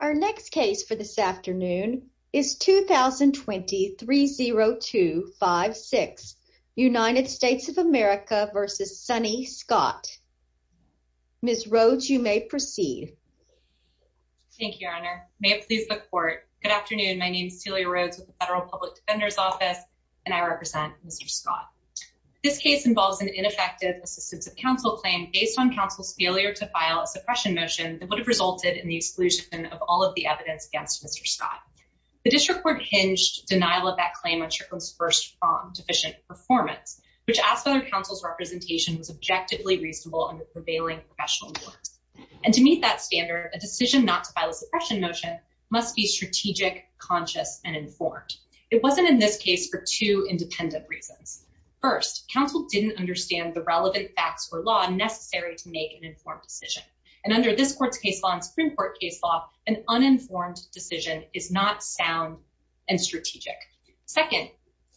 Our next case for this afternoon is 2020-30256, United States of America v. Sonny Scott. Ms. Rhodes, you may proceed. Thank you, Your Honor. May it please the Court, good afternoon, my name is Celia Rhodes with the Federal Public Defender's Office, and I represent Mr. Scott. This case involves an ineffective assistance of counsel claim based on counsel's failure to file a suppression motion that would have resulted in the exclusion of all of the evidence against Mr. Scott. The district court hinged denial of that claim on Churchill's first deficient performance, which asked whether counsel's representation was objectively reasonable under prevailing professional norms. And to meet that standard, a decision not to file a suppression motion must be strategic, conscious, and informed. It wasn't in this case for two independent reasons. First, counsel didn't understand the relevant facts for law necessary to make an informed decision. And under this Court's case law and Supreme Court case law, an uninformed decision is not sound and strategic. Second,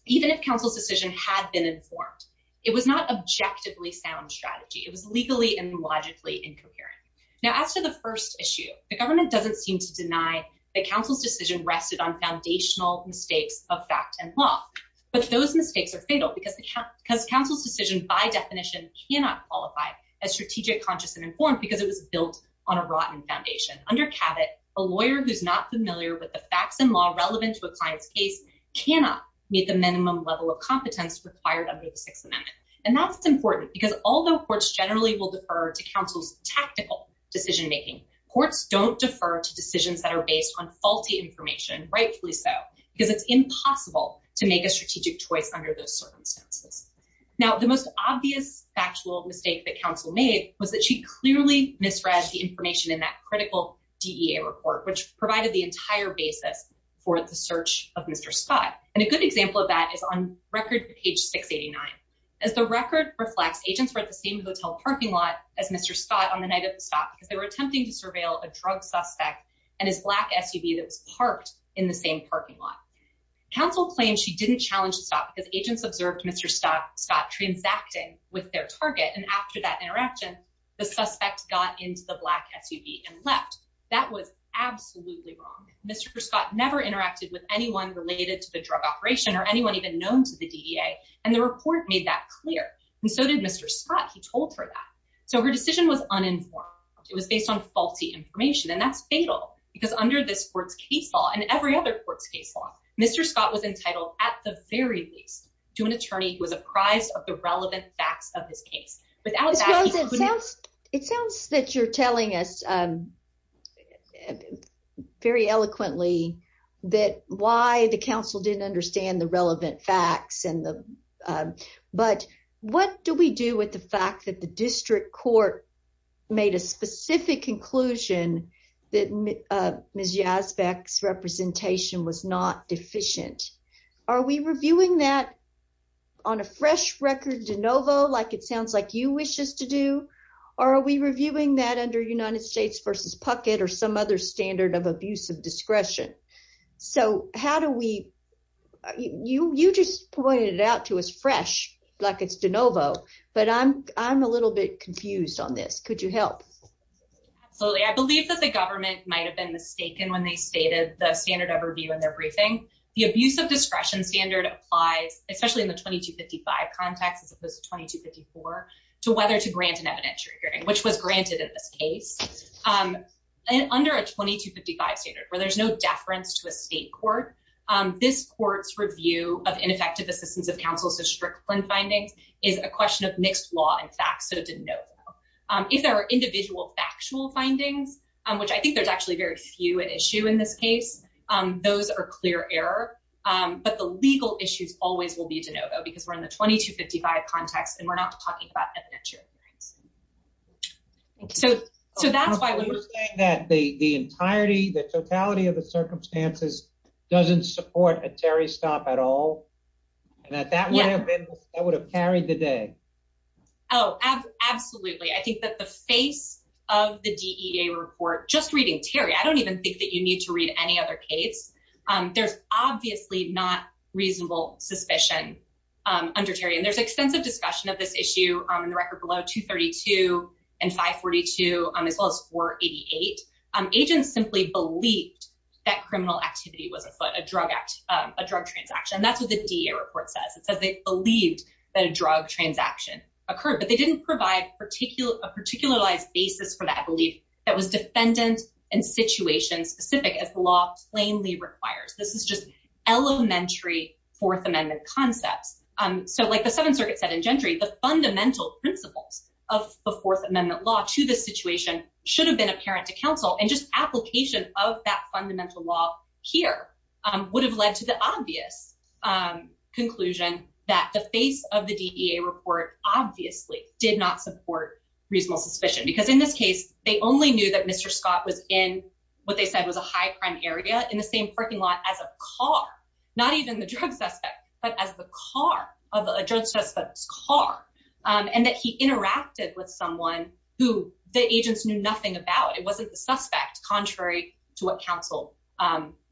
even if counsel's decision had been informed, it was not objectively sound strategy. It was legally and logically incoherent. Now as to the first issue, the government doesn't seem to deny that counsel's decision rested on foundational mistakes of fact and law. But those mistakes are fatal because counsel's decision by definition cannot qualify as strategic, conscious, and informed because it was built on a rotten foundation. Under Cabot, a lawyer who's not familiar with the facts and law relevant to a client's case cannot meet the minimum level of competence required under the Sixth Amendment. And that's important because although courts generally will defer to counsel's tactical decision making, courts don't defer to decisions that are based on faulty information, rightfully so, because it's impossible to make a strategic choice under those circumstances. Now the most obvious factual mistake that counsel made was that she clearly misread the information in that critical DEA report, which provided the entire basis for the search of Mr. Scott. And a good example of that is on record page 689. As the record reflects, agents were at the same hotel parking lot as Mr. Scott on the night of the stop because they were attempting to surveil a drug suspect and his black SUV that was parked in the same parking lot. Counsel claimed she didn't challenge the stop because agents observed Mr. Scott transacting with their target. And after that interaction, the suspect got into the black SUV and left. That was absolutely wrong. Mr. Scott never interacted with anyone related to the drug operation or anyone even known to the DEA. And the report made that clear. And so did Mr. Scott. He told her that. So her decision was uninformed. It was based on faulty information. And that's fatal because under this court's case law and every other court's case law, Mr. Scott was entitled at the very least to an attorney who was apprised of the relevant facts of his case. It sounds that you're telling us very eloquently that why the council didn't understand the relevant facts. But what do we do with the fact that the district court made a specific conclusion that Ms. Yazbek's representation was not deficient? Are we reviewing that on a fresh record de novo? Like it sounds like you wish us to do? Or are we reviewing that under United States versus Puckett or some other standard of abuse of discretion? So how do we you? You just pointed it out to us fresh like it's de novo. But I'm I'm a little bit confused on this. Could you help? So I believe that the government might have been mistaken when they stated the standard of review in their briefing. The abuse of discretion standard applies, especially in the 2255 context, as opposed to 2254, to whether to grant an evidentiary hearing, which was granted in this case. Under a 2255 standard where there's no deference to a state court. This court's review of ineffective assistance of counsels to Strickland findings is a question of mixed law. In fact, so to know if there are individual factual findings, which I think there's actually very few at issue in this case. Those are clear error. But the legal issues always will be to know, though, because we're in the 2255 context and we're not talking about. So so that's why we're saying that the entirety, the totality of the circumstances doesn't support a Terry stop at all. And that that would have been that would have carried the day. Oh, absolutely. I think that the face of the DEA report just reading, Terry, I don't even think that you need to read any other case. There's obviously not reasonable suspicion under Terry. And there's extensive discussion of this issue in the record below 232 and 542, as well as 488. Agents simply believed that criminal activity was a drug act, a drug transaction. And that's what the DEA report says. It says they believed that a drug transaction occurred. But they didn't provide particular a particularized basis for that belief. That was defendant and situation specific as the law plainly requires. This is just elementary Fourth Amendment concepts. So like the Seventh Circuit said in Gentry, the fundamental principles of the Fourth Amendment law to the situation should have been apparent to counsel. And just application of that fundamental law here would have led to the obvious conclusion that the face of the DEA report obviously did not support reasonable suspicion. Because in this case, they only knew that Mr. Scott was in what they said was a high crime area in the same parking lot as a car, not even the drug suspect, but as the car of a drug suspect's car. And that he interacted with someone who the agents knew nothing about. It wasn't the suspect, contrary to what counsel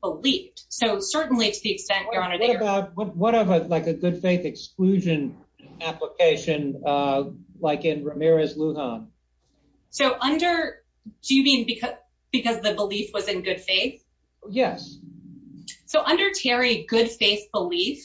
believed. So certainly, to the extent, Your Honor, they are— What about like a good faith exclusion application like in Ramirez-Lujan? So under—do you mean because the belief was in good faith? Yes. So under Terry, good faith belief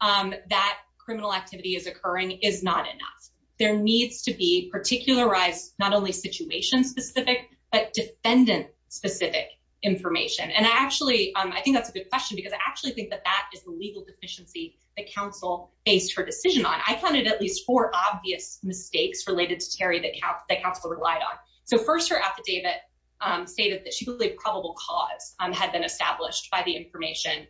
that criminal activity is occurring is not enough. There needs to be particularized, not only situation-specific, but defendant-specific information. And I actually—I think that's a good question because I actually think that that is the legal deficiency that counsel based her decision on. I counted at least four obvious mistakes related to Terry that counsel relied on. So first, her affidavit stated that she believed probable cause had been established by the information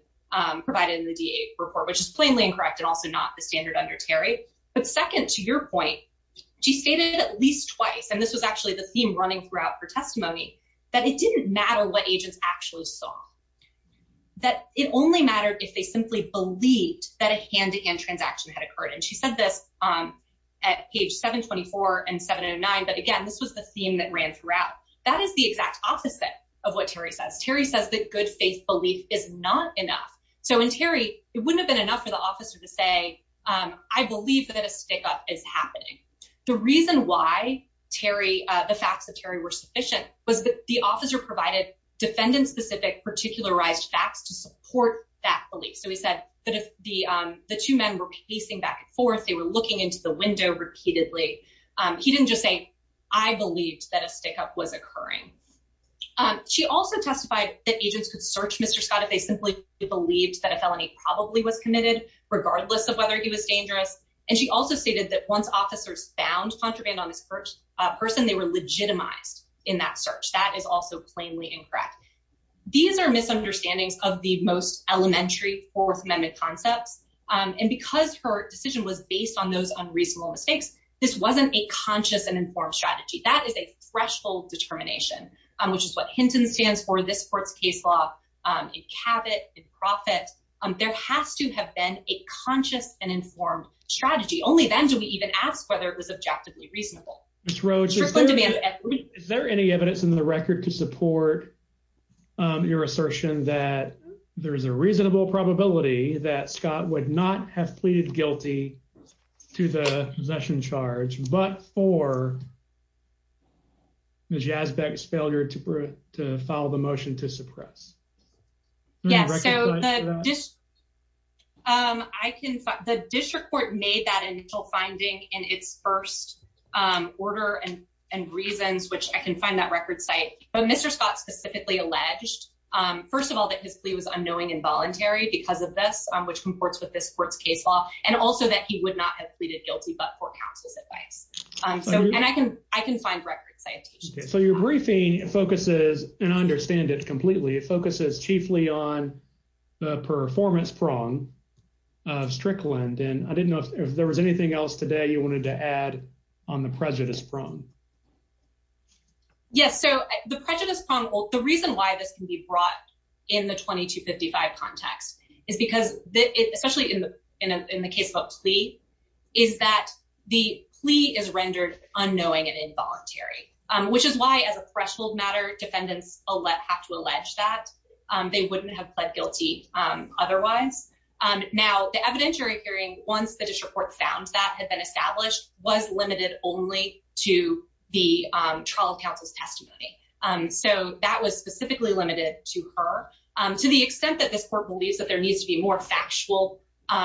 provided in the DEA report, which is plainly incorrect and also not the standard under Terry. But second, to your point, she stated at least twice, and this was actually the theme running throughout her testimony, that it didn't matter what agents actually saw. That it only mattered if they simply believed that a hand-to-hand transaction had occurred. And she said this at page 724 and 709. But again, this was the theme that ran throughout. That is the exact opposite of what Terry says. Terry says that good faith belief is not enough. So in Terry, it wouldn't have been enough for the officer to say, I believe that a stick-up is happening. The reason why Terry—the facts of Terry were sufficient was that the officer provided defendant-specific particularized facts to support that belief. So he said that if the two men were pacing back and forth, they were looking into the window repeatedly, he didn't just say, I believed that a stick-up was occurring. She also testified that agents could search Mr. Scott if they simply believed that a felony probably was committed, regardless of whether he was dangerous. And she also stated that once officers found contraband on this person, they were legitimized in that search. That is also plainly incorrect. These are misunderstandings of the most elementary Fourth Amendment concepts. And because her decision was based on those unreasonable mistakes, this wasn't a conscious and informed strategy. That is a threshold determination, which is what Hinton stands for, this court's case law, in Cabot, in Profitt. There has to have been a conscious and informed strategy. Only then do we even ask whether it was objectively reasonable. Ms. Roach, is there any evidence in the record to support your assertion that there is a reasonable probability that Scott would not have pleaded guilty to the possession charge, but for Ms. Yazbeck's failure to file the motion to suppress? Yes, so the district court made that initial finding in its first order and reasons, which I can find that record site. But Mr. Scott specifically alleged, first of all, that his plea was unknowing and voluntary because of this, which comports with this court's case law, and also that he would not have pleaded guilty but for counsel's advice. And I can find record citations. So your briefing focuses, and I understand it completely, it focuses chiefly on the performance prong of Strickland. And I didn't know if there was anything else today you wanted to add on the prejudice prong. Yes, so the prejudice prong, the reason why this can be brought in the 2255 context is because, especially in the case of a plea, is that the plea is rendered unknowing and involuntary, which is why, as a threshold matter, defendants have to allege that they wouldn't have pled guilty otherwise. Now, the evidentiary hearing, once the district court found that had been established, was limited only to the trial counsel's testimony. So that was specifically limited to her. To the extent that this court believes that there needs to be more factual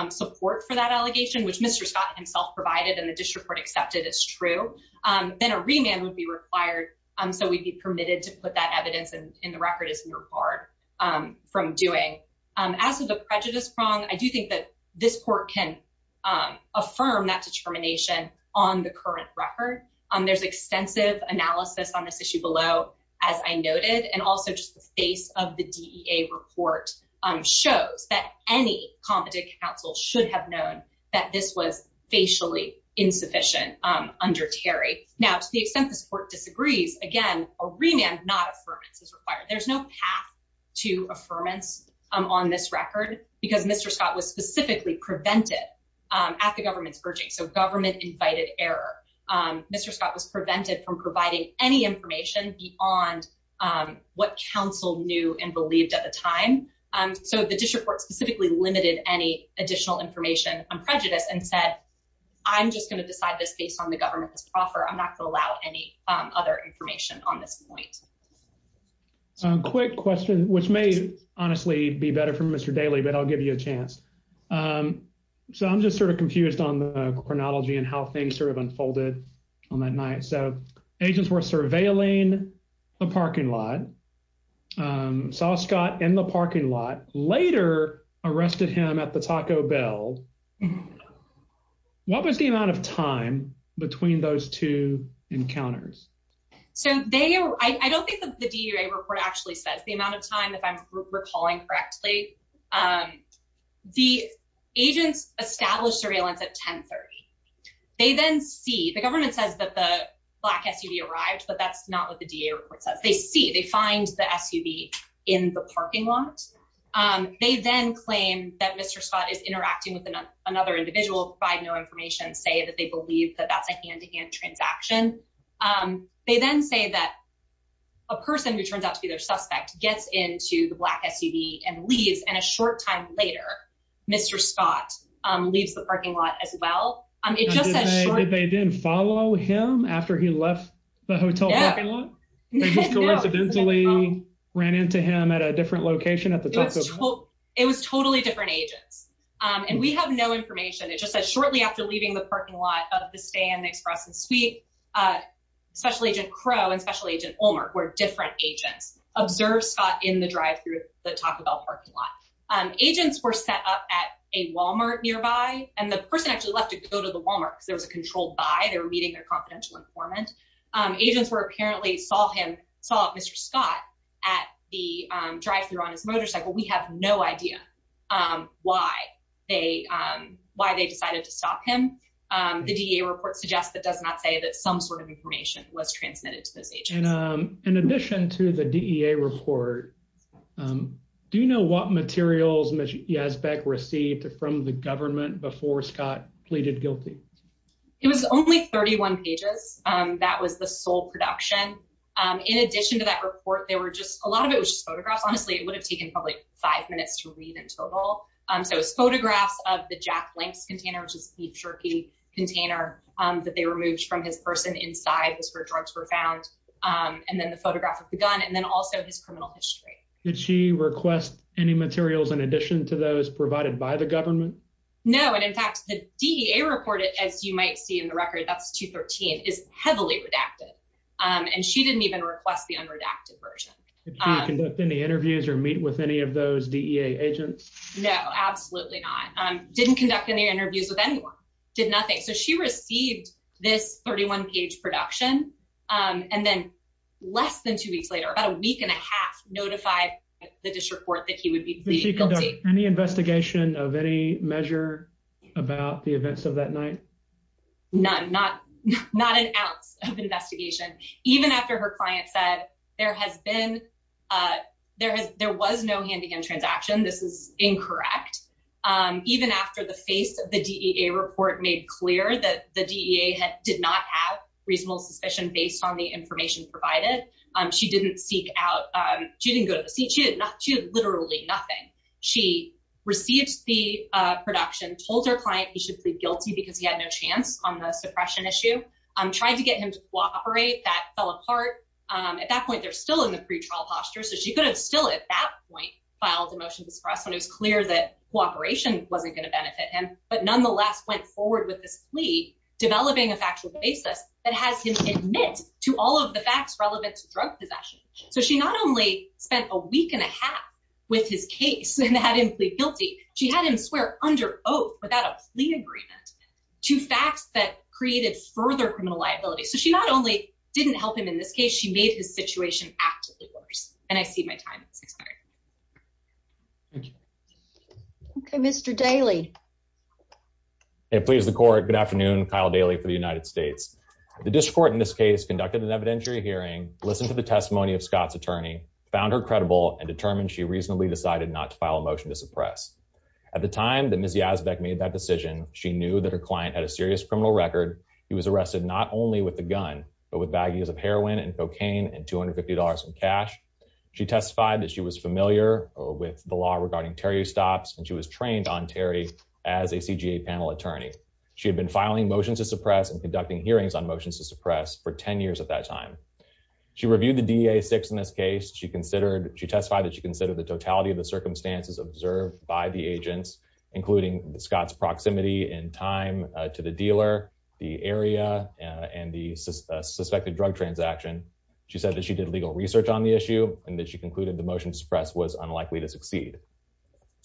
support for that allegation, which Mr. Scott himself provided and the district court accepted as true, then a remand would be required. So we'd be permitted to put that evidence in the record as required from doing. As for the prejudice prong, I do think that this court can affirm that determination on the current record. There's extensive analysis on this issue below, as I noted, and also just the face of the DEA report shows that any competent counsel should have known that this was facially insufficient under Terry. Now, to the extent this court disagrees, again, a remand, not affirmance, is required. There's no path to affirmance on this record because Mr. Scott was specifically prevented at the government's urging. So government-invited error. Mr. Scott was prevented from providing any information beyond what counsel knew and believed at the time. So the district court specifically limited any additional information on prejudice and said, I'm just going to decide this based on the government's offer. I'm not going to allow any other information on this point. Quick question, which may honestly be better for Mr. Daly, but I'll give you a chance. So I'm just sort of confused on the chronology and how things sort of unfolded on that night. So agents were surveilling the parking lot. Saw Scott in the parking lot, later arrested him at the Taco Bell. What was the amount of time between those two encounters? So I don't think the DEA report actually says the amount of time, if I'm recalling correctly. The agents established surveillance at 1030. They then see, the government says that the black SUV arrived, but that's not what the DEA report says. They see, they find the SUV in the parking lot. They then claim that Mr. Scott is interacting with another individual, provide no information, say that they believe that that's a hand-to-hand transaction. They then say that a person who turns out to be their suspect gets into the black SUV and leaves. And a short time later, Mr. Scott leaves the parking lot as well. They didn't follow him after he left the hotel parking lot? They just coincidentally ran into him at a different location at the Taco Bell? It was totally different agents. And we have no information. It just says shortly after leaving the parking lot of the stay in the Express and Suite, Special Agent Crow and Special Agent Ulmer were different agents. Observe Scott in the drive-thru of the Taco Bell parking lot. Agents were set up at a Walmart nearby. And the person actually left to go to the Walmart because there was a controlled buy. They were meeting their confidential informant. Agents were apparently saw him, saw Mr. Scott at the drive-thru on his motorcycle. We have no idea why they decided to stop him. The DEA report suggests that does not say that some sort of information was transmitted to those agents. In addition to the DEA report, do you know what materials Mr. Yazbek received from the government before Scott pleaded guilty? It was only 31 pages. That was the sole production. In addition to that report, there were just a lot of it was just photographs. Honestly, it would have taken probably five minutes to read in total. So it was photographs of the Jack Lanks container, which is the Cherokee container that they removed from his person inside. That's where drugs were found. And then the photograph of the gun and then also his criminal history. Did she request any materials in addition to those provided by the government? No. And in fact, the DEA reported, as you might see in the record, that's 213 is heavily redacted. And she didn't even request the unredacted version. Did she conduct any interviews or meet with any of those DEA agents? No, absolutely not. Didn't conduct any interviews with anyone. Did nothing. So she received this 31 page production. And then less than two weeks later, about a week and a half, notified the district court that he would be pleaded guilty. Did she conduct any investigation of any measure about the events of that night? None. Not not an ounce of investigation. Even after her client said there has been there has there was no hand in transaction. This is incorrect. Even after the face of the DEA report made clear that the DEA did not have reasonable suspicion based on the information provided. She didn't seek out. She didn't go to the seat. She did not do literally nothing. She received the production, told her client he should plead guilty because he had no chance on the suppression issue. Tried to get him to cooperate. That fell apart. At that point, they're still in the pretrial posture. So she could have still at that point filed a motion to suppress when it was clear that cooperation wasn't going to benefit him. But nonetheless, went forward with this plea, developing a factual basis that has him admit to all of the facts relevant to drug possession. So she not only spent a week and a half with his case and had him plead guilty. She had him swear under oath without a plea agreement to facts that created further criminal liability. So she not only didn't help him in this case, she made his situation actively worse. And I see my time. OK, Mr. Daly, please, the court. Good afternoon. Kyle Daly for the United States. The district court in this case conducted an evidentiary hearing. Listen to the testimony of Scott's attorney, found her credible and determined she reasonably decided not to file a motion to suppress. At the time that Ms. Yazbek made that decision, she knew that her client had a serious criminal record. He was arrested not only with the gun, but with baggies of heroin and cocaine and two hundred fifty dollars in cash. She testified that she was familiar with the law regarding Terry stops and she was trained on Terry as a CGA panel attorney. She had been filing motions to suppress and conducting hearings on motions to suppress for 10 years at that time. She reviewed the DA six in this case. She considered she testified that she considered the totality of the circumstances observed by the agents, including Scott's proximity and time to the dealer, the area and the suspected drug transaction. She said that she did legal research on the issue and that she concluded the motion to suppress was unlikely to succeed.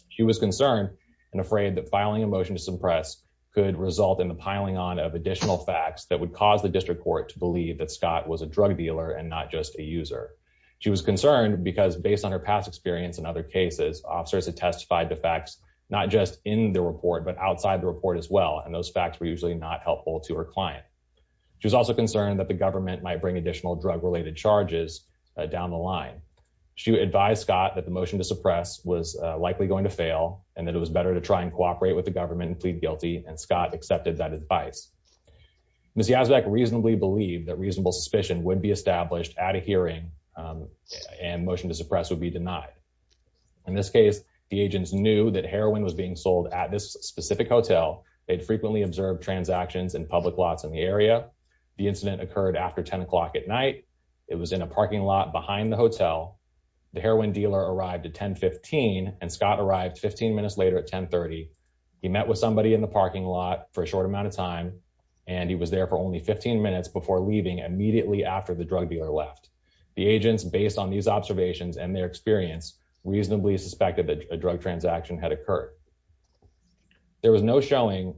She was concerned and afraid that filing a motion to suppress could result in the piling on of additional facts that would cause the district court to believe that Scott was a drug dealer and not just a user. She was concerned because based on her past experience in other cases, officers had testified the facts not just in the report, but outside the report as well. And those facts were usually not helpful to her client. She was also concerned that the government might bring additional drug related charges down the line. She advised Scott that the motion to suppress was likely going to fail and that it was better to try and cooperate with the government and plead guilty. And Scott accepted that advice. Ms. Yazbek reasonably believed that reasonable suspicion would be established at a hearing and motion to suppress would be denied. In this case, the agents knew that heroin was being sold at this specific hotel. They'd frequently observed transactions in public lots in the area. The incident occurred after 10 o'clock at night. It was in a parking lot behind the hotel. The heroin dealer arrived at 1015, and Scott arrived 15 minutes later at 1030. He met with somebody in the parking lot for a short amount of time, and he was there for only 15 minutes before leaving immediately after the drug dealer left. The agents, based on these observations and their experience, reasonably suspected that a drug transaction had occurred. There was no showing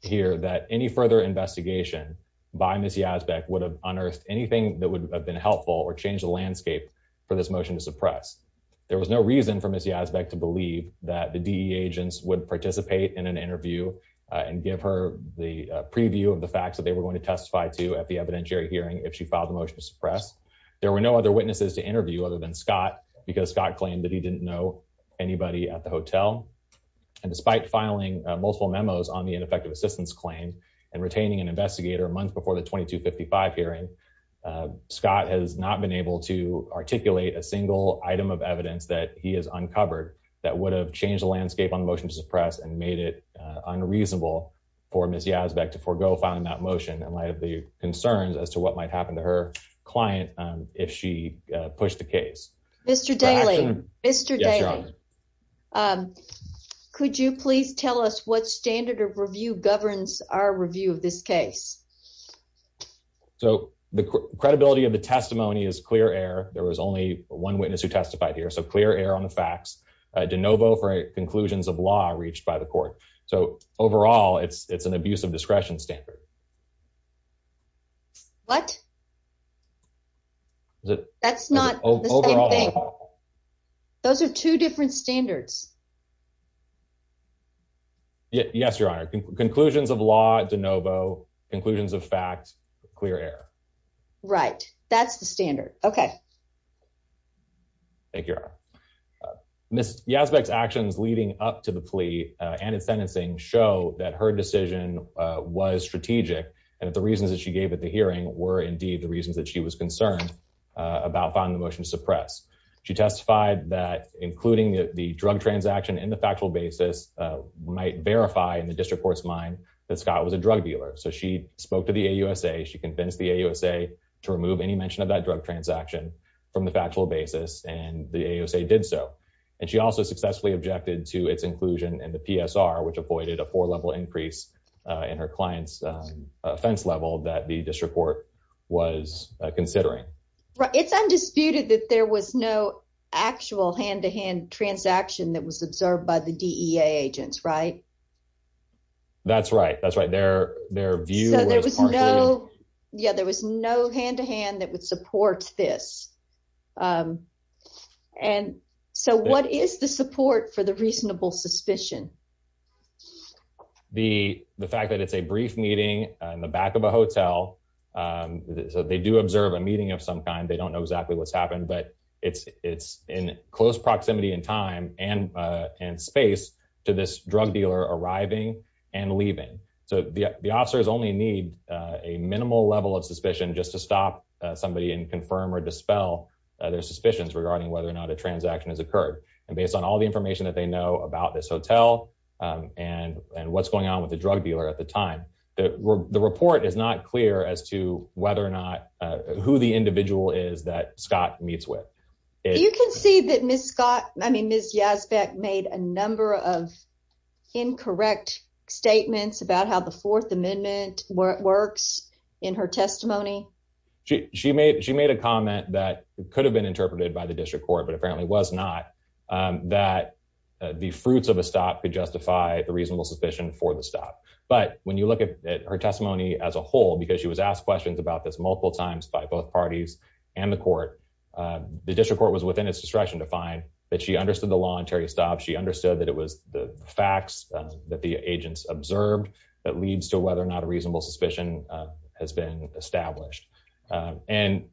here that any further investigation by Ms. Yazbek would have unearthed anything that would have been helpful or changed the landscape for this motion to suppress. There was no reason for Ms. Yazbek to believe that the DE agents would participate in an interview and give her the preview of the facts that they were going to testify to at the evidentiary hearing if she filed the motion to suppress. There were no other witnesses to interview other than Scott because Scott claimed that he didn't know anybody at the hotel. And despite filing multiple memos on the ineffective assistance claim and retaining an investigator a month before the 2255 hearing, Scott has not been able to articulate a single item of evidence that he has uncovered that would have changed the landscape on the motion to suppress and made it unreasonable for Ms. Yazbek to forego filing that motion in light of the concerns as to what might happen to her client if she pushed the case. Mr. Daly, Mr. Daly, could you please tell us what standard of review governs our review of this case? So the credibility of the testimony is clear air. There was only one witness who testified here, so clear air on the facts. De novo for conclusions of law reached by the court. So overall, it's an abuse of discretion standard. What? That's not the same thing. Those are two different standards. Yes, Your Honor. Conclusions of law, de novo, conclusions of fact, clear air. Right. That's the standard. OK. Thank you, Your Honor. Ms. Yazbek's actions leading up to the plea and its sentencing show that her decision was strategic and that the reasons that she gave at the hearing were indeed the reasons that she was concerned about finding the motion to suppress. She testified that including the drug transaction in the factual basis might verify in the district court's mind that Scott was a drug dealer. So she spoke to the AUSA. She convinced the AUSA to remove any mention of that drug transaction from the factual basis. And the AUSA did so. And she also successfully objected to its inclusion in the PSR, which avoided a four-level increase in her client's offense level that the district court was considering. It's undisputed that there was no actual hand-to-hand transaction that was observed by the DEA agents, right? That's right. That's right. Their view was partly. Yeah, there was no hand-to-hand that would support this. And so what is the support for the reasonable suspicion? The fact that it's a brief meeting in the back of a hotel. So they do observe a meeting of some kind. They don't know exactly what's happened, but it's in close proximity and time and space to this drug dealer arriving and leaving. So the officers only need a minimal level of suspicion just to stop somebody and confirm or dispel their suspicions regarding whether or not a transaction has occurred. And based on all the information that they know about this hotel and what's going on with the drug dealer at the time, the report is not clear as to whether or not who the individual is that Scott meets with. You can see that Ms. Yazbek made a number of incorrect statements about how the Fourth Amendment works in her testimony. She made a comment that could have been interpreted by the district court, but apparently was not, that the fruits of a stop could justify the reasonable suspicion for the stop. But when you look at her testimony as a whole, because she was asked questions about this multiple times by both parties and the court, the district court was within its discretion to find that she understood the law and Terry stopped. She understood that it was the facts that the agents observed that leads to whether or not a reasonable suspicion has been established. And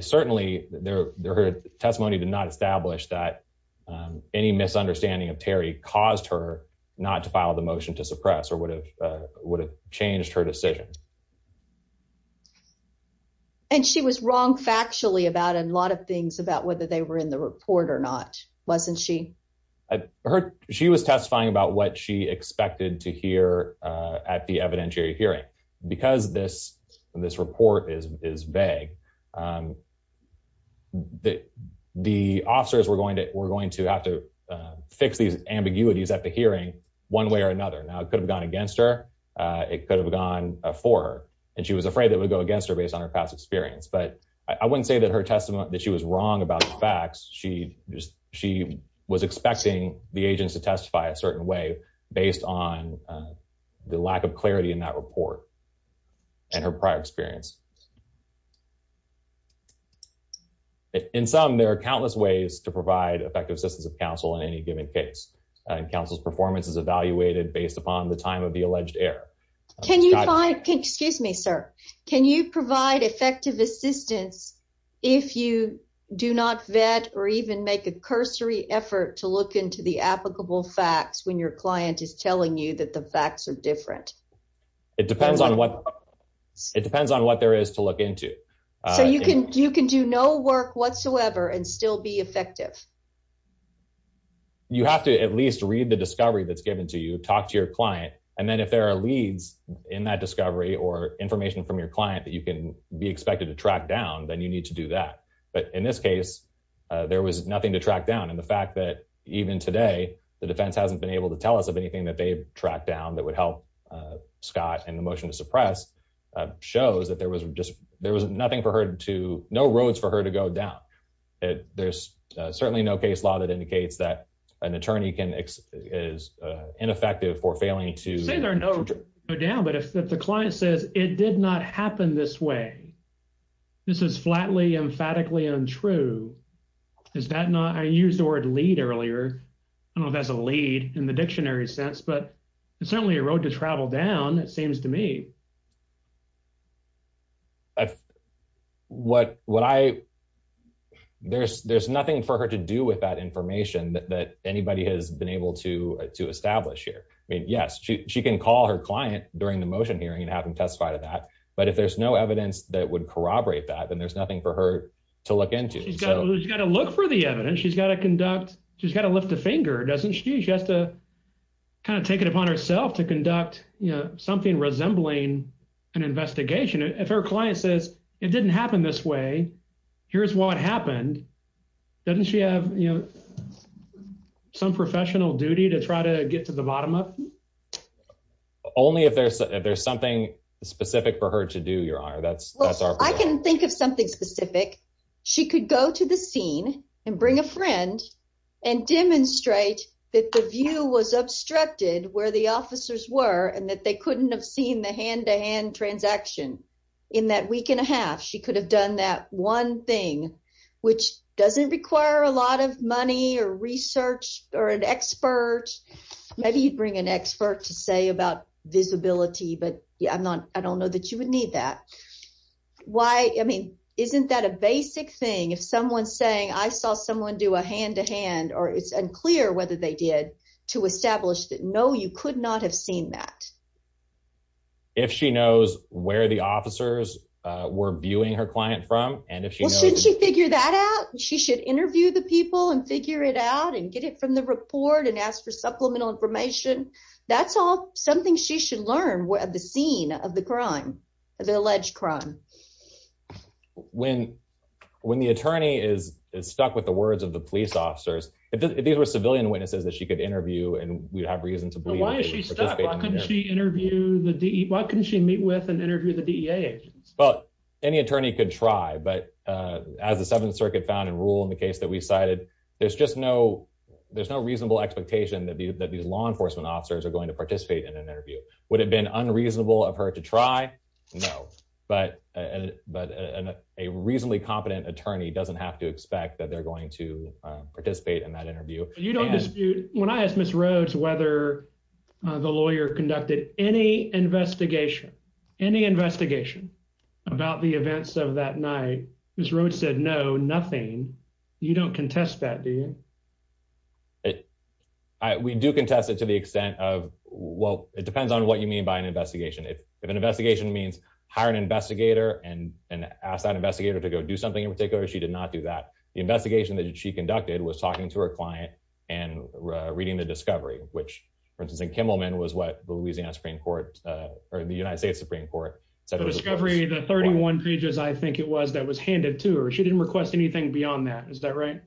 certainly her testimony did not establish that any misunderstanding of Terry caused her not to file the motion to suppress or would have changed her decision. And she was wrong factually about a lot of things about whether they were in the report or not, wasn't she? She was testifying about what she expected to hear at the evidentiary hearing. Because this report is vague, the officers were going to have to fix these ambiguities at the hearing one way or another. Now, it could have gone against her, it could have gone for her, and she was afraid it would go against her based on her past experience. But I wouldn't say that her testimony, that she was wrong about the facts. She was expecting the agents to testify a certain way based on the lack of clarity in that report and her prior experience. In sum, there are countless ways to provide effective assistance of counsel in any given case. And counsel's performance is evaluated based upon the time of the alleged error. Excuse me, sir. Can you provide effective assistance if you do not vet or even make a cursory effort to look into the applicable facts when your client is telling you that the facts are different? It depends on what there is to look into. So you can do no work whatsoever and still be effective? You have to at least read the discovery that's given to you, talk to your client. And then if there are leads in that discovery or information from your client that you can be expected to track down, then you need to do that. But in this case, there was nothing to track down. And the fact that even today, the defense hasn't been able to tell us of anything that they've tracked down that would help Scott in the motion to suppress shows that there was nothing for her to, no roads for her to go down. There's certainly no case law that indicates that an attorney is ineffective for failing to... Say there are no roads to go down, but if the client says, it did not happen this way. This is flatly, emphatically untrue. Is that not, I used the word lead earlier. I don't know if that's a lead in the dictionary sense, but it's certainly a road to travel down, it seems to me. There's nothing for her to do with that information that anybody has been able to establish here. I mean, yes, she can call her client during the motion hearing and have him testify to that. But if there's no evidence that would corroborate that, then there's nothing for her to look into. She's got to look for the evidence. She's got to conduct, she's got to lift a finger, doesn't she? She has to kind of take it upon herself to conduct something resembling an investigation. If her client says, it didn't happen this way. Here's what happened. Doesn't she have some professional duty to try to get to the bottom of it? Only if there's something specific for her to do, your honor. I can think of something specific. She could go to the scene and bring a friend and demonstrate that the view was obstructed where the officers were and that they couldn't have seen the hand-to-hand transaction. In that week and a half, she could have done that one thing, which doesn't require a lot of money or research or an expert. Maybe you'd bring an expert to say about visibility, but I don't know that you would need that. I mean, isn't that a basic thing? If someone's saying, I saw someone do a hand-to-hand or it's unclear whether they did, to establish that, no, you could not have seen that. If she knows where the officers were viewing her client from. Well, shouldn't she figure that out? She should interview the people and figure it out and get it from the report and ask for supplemental information. That's all something she should learn at the scene of the crime, the alleged crime. When the attorney is stuck with the words of the police officers, if these were civilian witnesses that she could interview and we'd have reason to believe. Why couldn't she meet with and interview the DEA agents? Well, any attorney could try. But as the Seventh Circuit found in rule in the case that we cited, there's just no there's no reasonable expectation that these law enforcement officers are going to participate in an interview. Would it have been unreasonable of her to try? No. But but a reasonably competent attorney doesn't have to expect that they're going to participate in that interview. When I asked Miss Rhodes whether the lawyer conducted any investigation, any investigation about the events of that night, Miss Rhodes said no, nothing. You don't contest that, do you? We do contest it to the extent of, well, it depends on what you mean by an investigation. If an investigation means hire an investigator and ask that investigator to go do something in particular, she did not do that. The investigation that she conducted was talking to her client and reading the discovery, which, for instance, in Kimmelman was what the Louisiana Supreme Court or the United States Supreme Court said. The discovery, the 31 pages, I think it was that was handed to her. She didn't request anything beyond that. Is that right?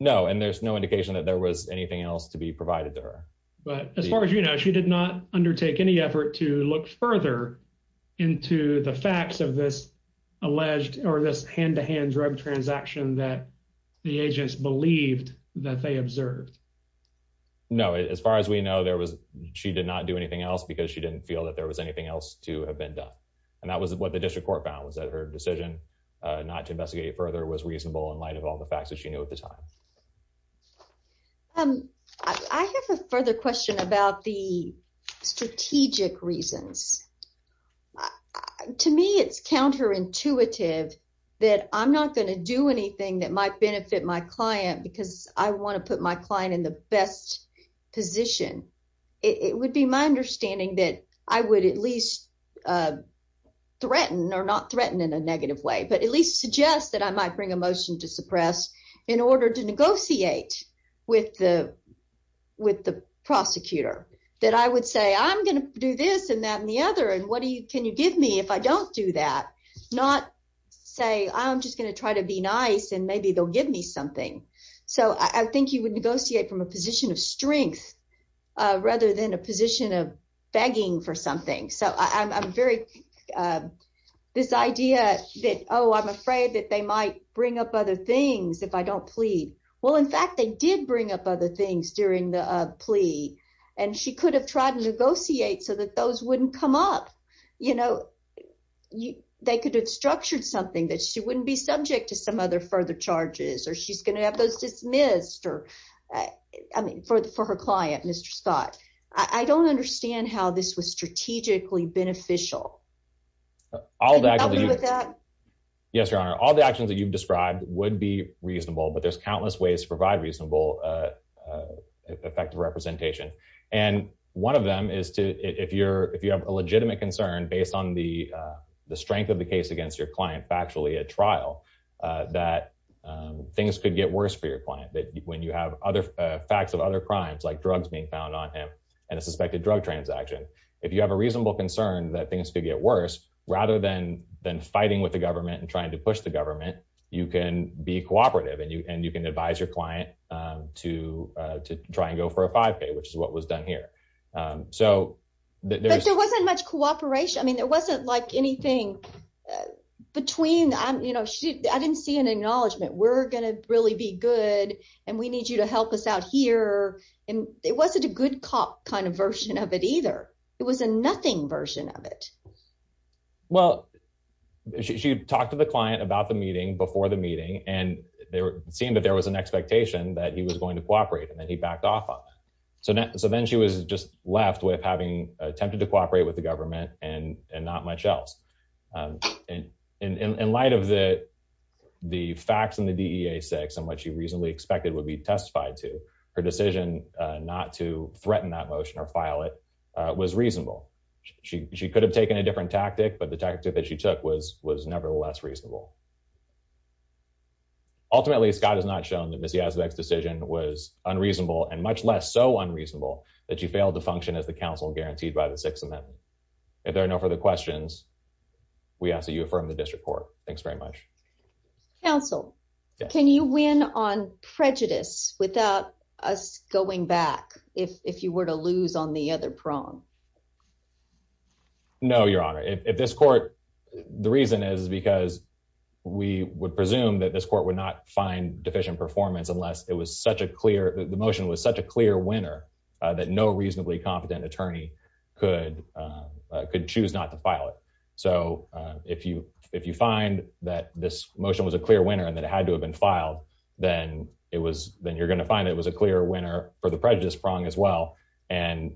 No. And there's no indication that there was anything else to be provided to her. But as far as you know, she did not undertake any effort to look further into the facts of this alleged or this hand to hand drug transaction that the agents believed that they observed. No, as far as we know, there was she did not do anything else because she didn't feel that there was anything else to have been done. And that was what the district court found was that her decision not to investigate further was reasonable in light of all the facts that she knew at the time. And I have a further question about the strategic reasons. To me, it's counterintuitive that I'm not going to do anything that might benefit my client because I want to put my client in the best position. It would be my understanding that I would at least threaten or not threaten in a negative way, but at least suggest that I might bring a motion to suppress in order to negotiate with the with the prosecutor that I would say, I'm going to do this and that and the other. And what do you can you give me if I don't do that? Not say I'm just going to try to be nice and maybe they'll give me something. So I think you would negotiate from a position of strength rather than a position of begging for something. So I'm very this idea that, oh, I'm afraid that they might bring up other things if I don't plead. Well, in fact, they did bring up other things during the plea, and she could have tried to negotiate so that those wouldn't come up. You know, they could have structured something that she wouldn't be subject to some other further charges or she's going to have those dismissed or I mean for the for her client, Mr. Scott. I don't understand how this was strategically beneficial. All that. Yes, Your Honor, all the actions that you've described would be reasonable, but there's countless ways to provide reasonable effective representation. And one of them is to if you're if you have a legitimate concern based on the strength of the case against your client factually at trial, that things could get worse for your client that when you have other facts of other crimes like drugs being found on him and a suspected drug transaction. If you have a reasonable concern that things could get worse, rather than than fighting with the government and trying to push the government, you can be cooperative and you and you can advise your client to to try and go for a five day which is what was done here. So, there wasn't much cooperation I mean there wasn't like anything between I'm you know she I didn't see an acknowledgement we're going to really be good, and we need you to help us out here, and it wasn't a good cop kind of version of it either. It was a nothing version of it. Well, she talked to the client about the meeting before the meeting, and there seemed that there was an expectation that he was going to cooperate and then he backed off on. So now so then she was just left with having attempted to cooperate with the government and and not much else. And in light of the, the facts and the DA six and what you reasonably expected would be testified to her decision not to threaten that motion or file it was reasonable. She could have taken a different tactic but the tactic that she took was was nevertheless reasonable. Ultimately, Scott has not shown that Missy has the next decision was unreasonable and much less so unreasonable that you fail to function as the council guaranteed by the Sixth Amendment. If there are no further questions, we ask that you affirm the district court. Thanks very much. Council. Can you win on prejudice, without us going back, if you were to lose on the other prong. No, Your Honor, if this court. The reason is because we would presume that this court would not find deficient performance unless it was such a clear the motion was such a clear winner that no reasonably competent attorney could could choose not to file it. So, if you, if you find that this motion was a clear winner and that had to have been filed, then it was, then you're going to find it was a clear winner for the prejudice prong as well. And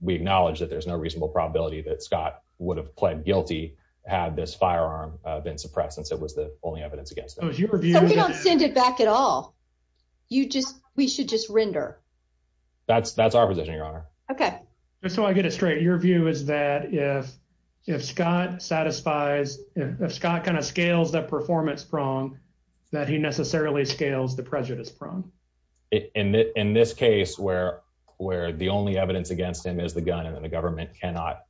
we acknowledge that there's no reasonable probability that Scott would have pled guilty. Had this firearm been suppressed since it was the only evidence against your view send it back at all. You just, we should just render. That's, that's our position, Your Honor. Okay, so I get it straight your view is that if, if Scott satisfies Scott kind of scales that performance prong that he necessarily scales the prejudice prong. In this case where, where the only evidence against him is the gun and the government cannot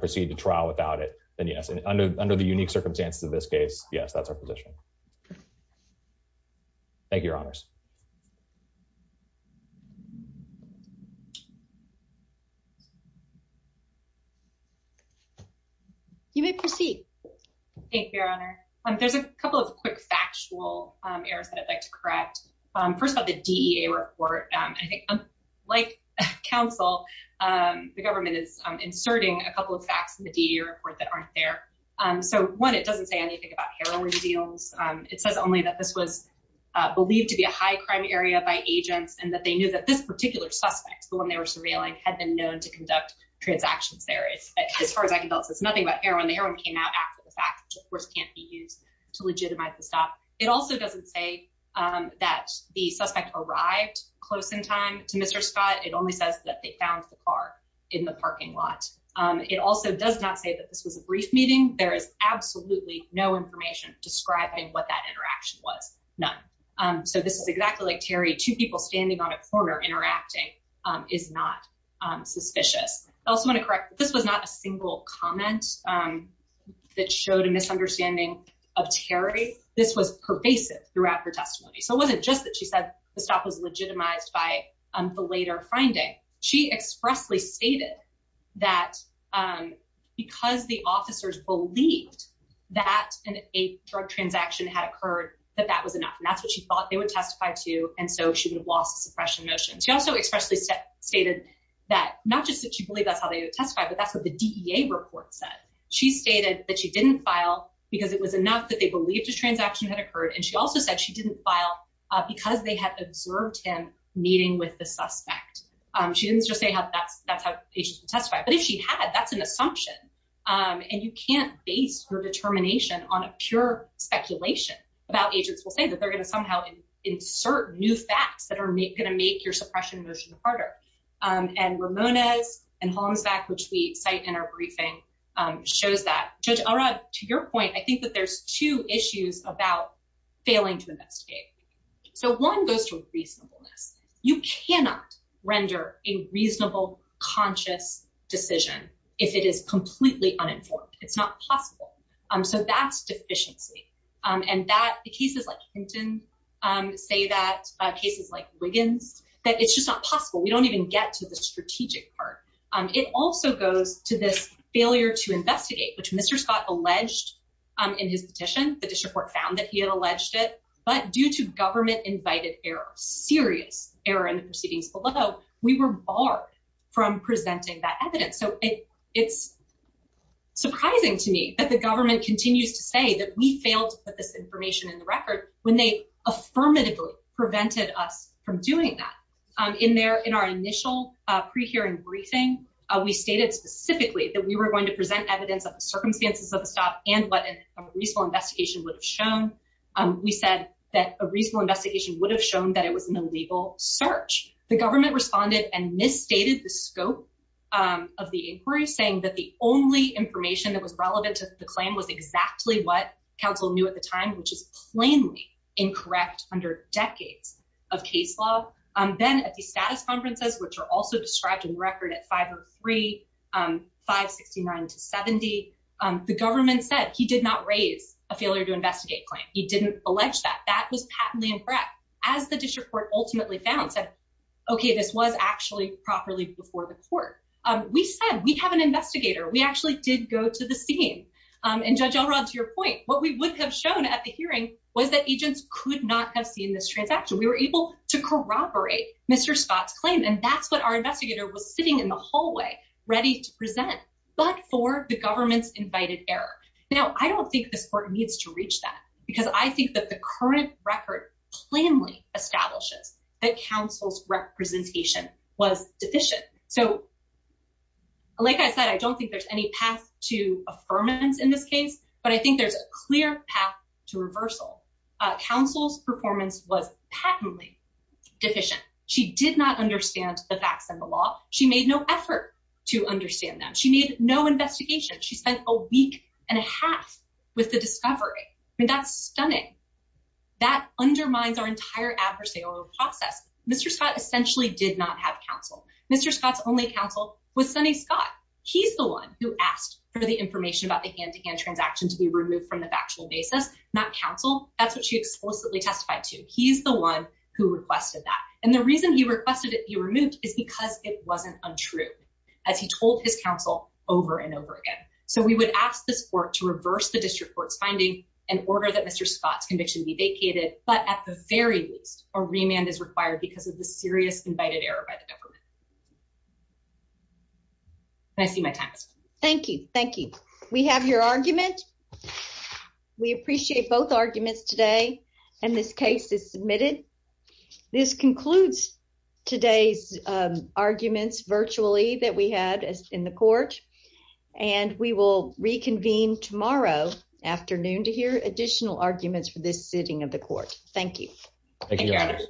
proceed to trial without it, then yes and under, under the unique circumstances of this case, yes that's our position. Thank you, Your Honors. You may proceed. Thank you, Your Honor. There's a couple of quick factual errors that I'd like to correct. First of all, the DEA report. I think, like, counsel, the government is inserting a couple of facts in the deer report that aren't there. So, one, it doesn't say anything about heroin deals. It says only that this was believed to be a high crime area by agents and that they knew that this particular suspect, the one they were surveilling had been known to conduct transactions there. As far as I can tell, it says nothing about heroin. The heroin came out after the fact, which of course can't be used to legitimize the stop. It also doesn't say that the suspect arrived close in time to Mr. Scott, it only says that they found the car in the parking lot. It also does not say that this was a brief meeting. There is absolutely no information describing what that interaction was. None. So this is exactly like Terry, two people standing on a corner interacting is not suspicious. I also want to correct. This was not a single comment that showed a misunderstanding of Terry. This was pervasive throughout her testimony. So it wasn't just that she said the stop was legitimized by the later finding. She expressly stated that because the officers believed that in a drug transaction had occurred, that that was enough. And that's what she thought they would testify to. And so she would have lost the suppression motion. She also expressly stated that not just that she believed that's how they would testify, but that's what the D.A. report said. She stated that she didn't file because it was enough that they believed a transaction had occurred. And she also said she didn't file because they had observed him meeting with the suspect. She didn't just say that's how they should testify. But if she had, that's an assumption. And you can't base your determination on a pure speculation about agents will say that they're going to somehow insert new facts that are going to make your suppression motion harder. And Ramona's and homes back, which we cite in our briefing shows that to your point, I think that there's two issues about failing to investigate. So one goes to reasonableness. You cannot render a reasonable, conscious decision if it is completely uninformed. It's not possible. So that's deficiency. And that the cases like Hinton say that cases like Wiggins, that it's just not possible. We don't even get to the strategic part. It also goes to this failure to investigate, which Mr. Scott alleged in his petition. The district court found that he had alleged it. But due to government invited error, serious error in the proceedings below, we were barred from presenting that evidence. So it's surprising to me that the government continues to say that we failed to put this information in the record when they affirmatively prevented us from doing that in there. In our initial pre-hearing briefing, we stated specifically that we were going to present evidence of the circumstances of the stop and what a reasonable investigation would have shown. We said that a reasonable investigation would have shown that it was an illegal search. The government responded and misstated the scope of the inquiry, saying that the only information that was relevant to the claim was exactly what counsel knew at the time, which is plainly incorrect under decades of case law. Then at the status conferences, which are also described in record at 503, 569 to 70, the government said he did not raise a failure to investigate claim. He didn't allege that. That was patently incorrect. As the district court ultimately found, said, OK, this was actually properly before the court. We said we have an investigator. We actually did go to the scene. And Judge Elrod, to your point, what we would have shown at the hearing was that agents could not have seen this transaction. We were able to corroborate Mr. Scott's claim. And that's what our investigator was sitting in the hallway ready to present. But for the government's invited error. Now, I don't think this court needs to reach that because I think that the current record plainly establishes that counsel's representation was deficient. So. Like I said, I don't think there's any path to affirmance in this case, but I think there's a clear path to reversal. Counsel's performance was patently deficient. She did not understand the facts and the law. She made no effort to understand that she needed no investigation. She spent a week and a half with the discovery. I mean, that's stunning. That undermines our entire adversarial process. Mr. Scott essentially did not have counsel. Mr. Scott's only counsel was Sonny Scott. He's the one who asked for the information about the hand to hand transaction to be removed from the factual basis. Not counsel. That's what she explicitly testified to. He's the one who requested that. And the reason he requested it be removed is because it wasn't untrue. As he told his counsel over and over again. So we would ask this court to reverse the district court's finding and order that Mr. Scott's conviction be vacated. But at the very least, a remand is required because of the serious invited error by the government. I see my tax. Thank you. Thank you. We have your argument. We appreciate both arguments today. And this case is submitted. This concludes today's arguments virtually that we had in the court. And we will reconvene tomorrow afternoon to hear additional arguments for this sitting of the court. Thank you. Thank you.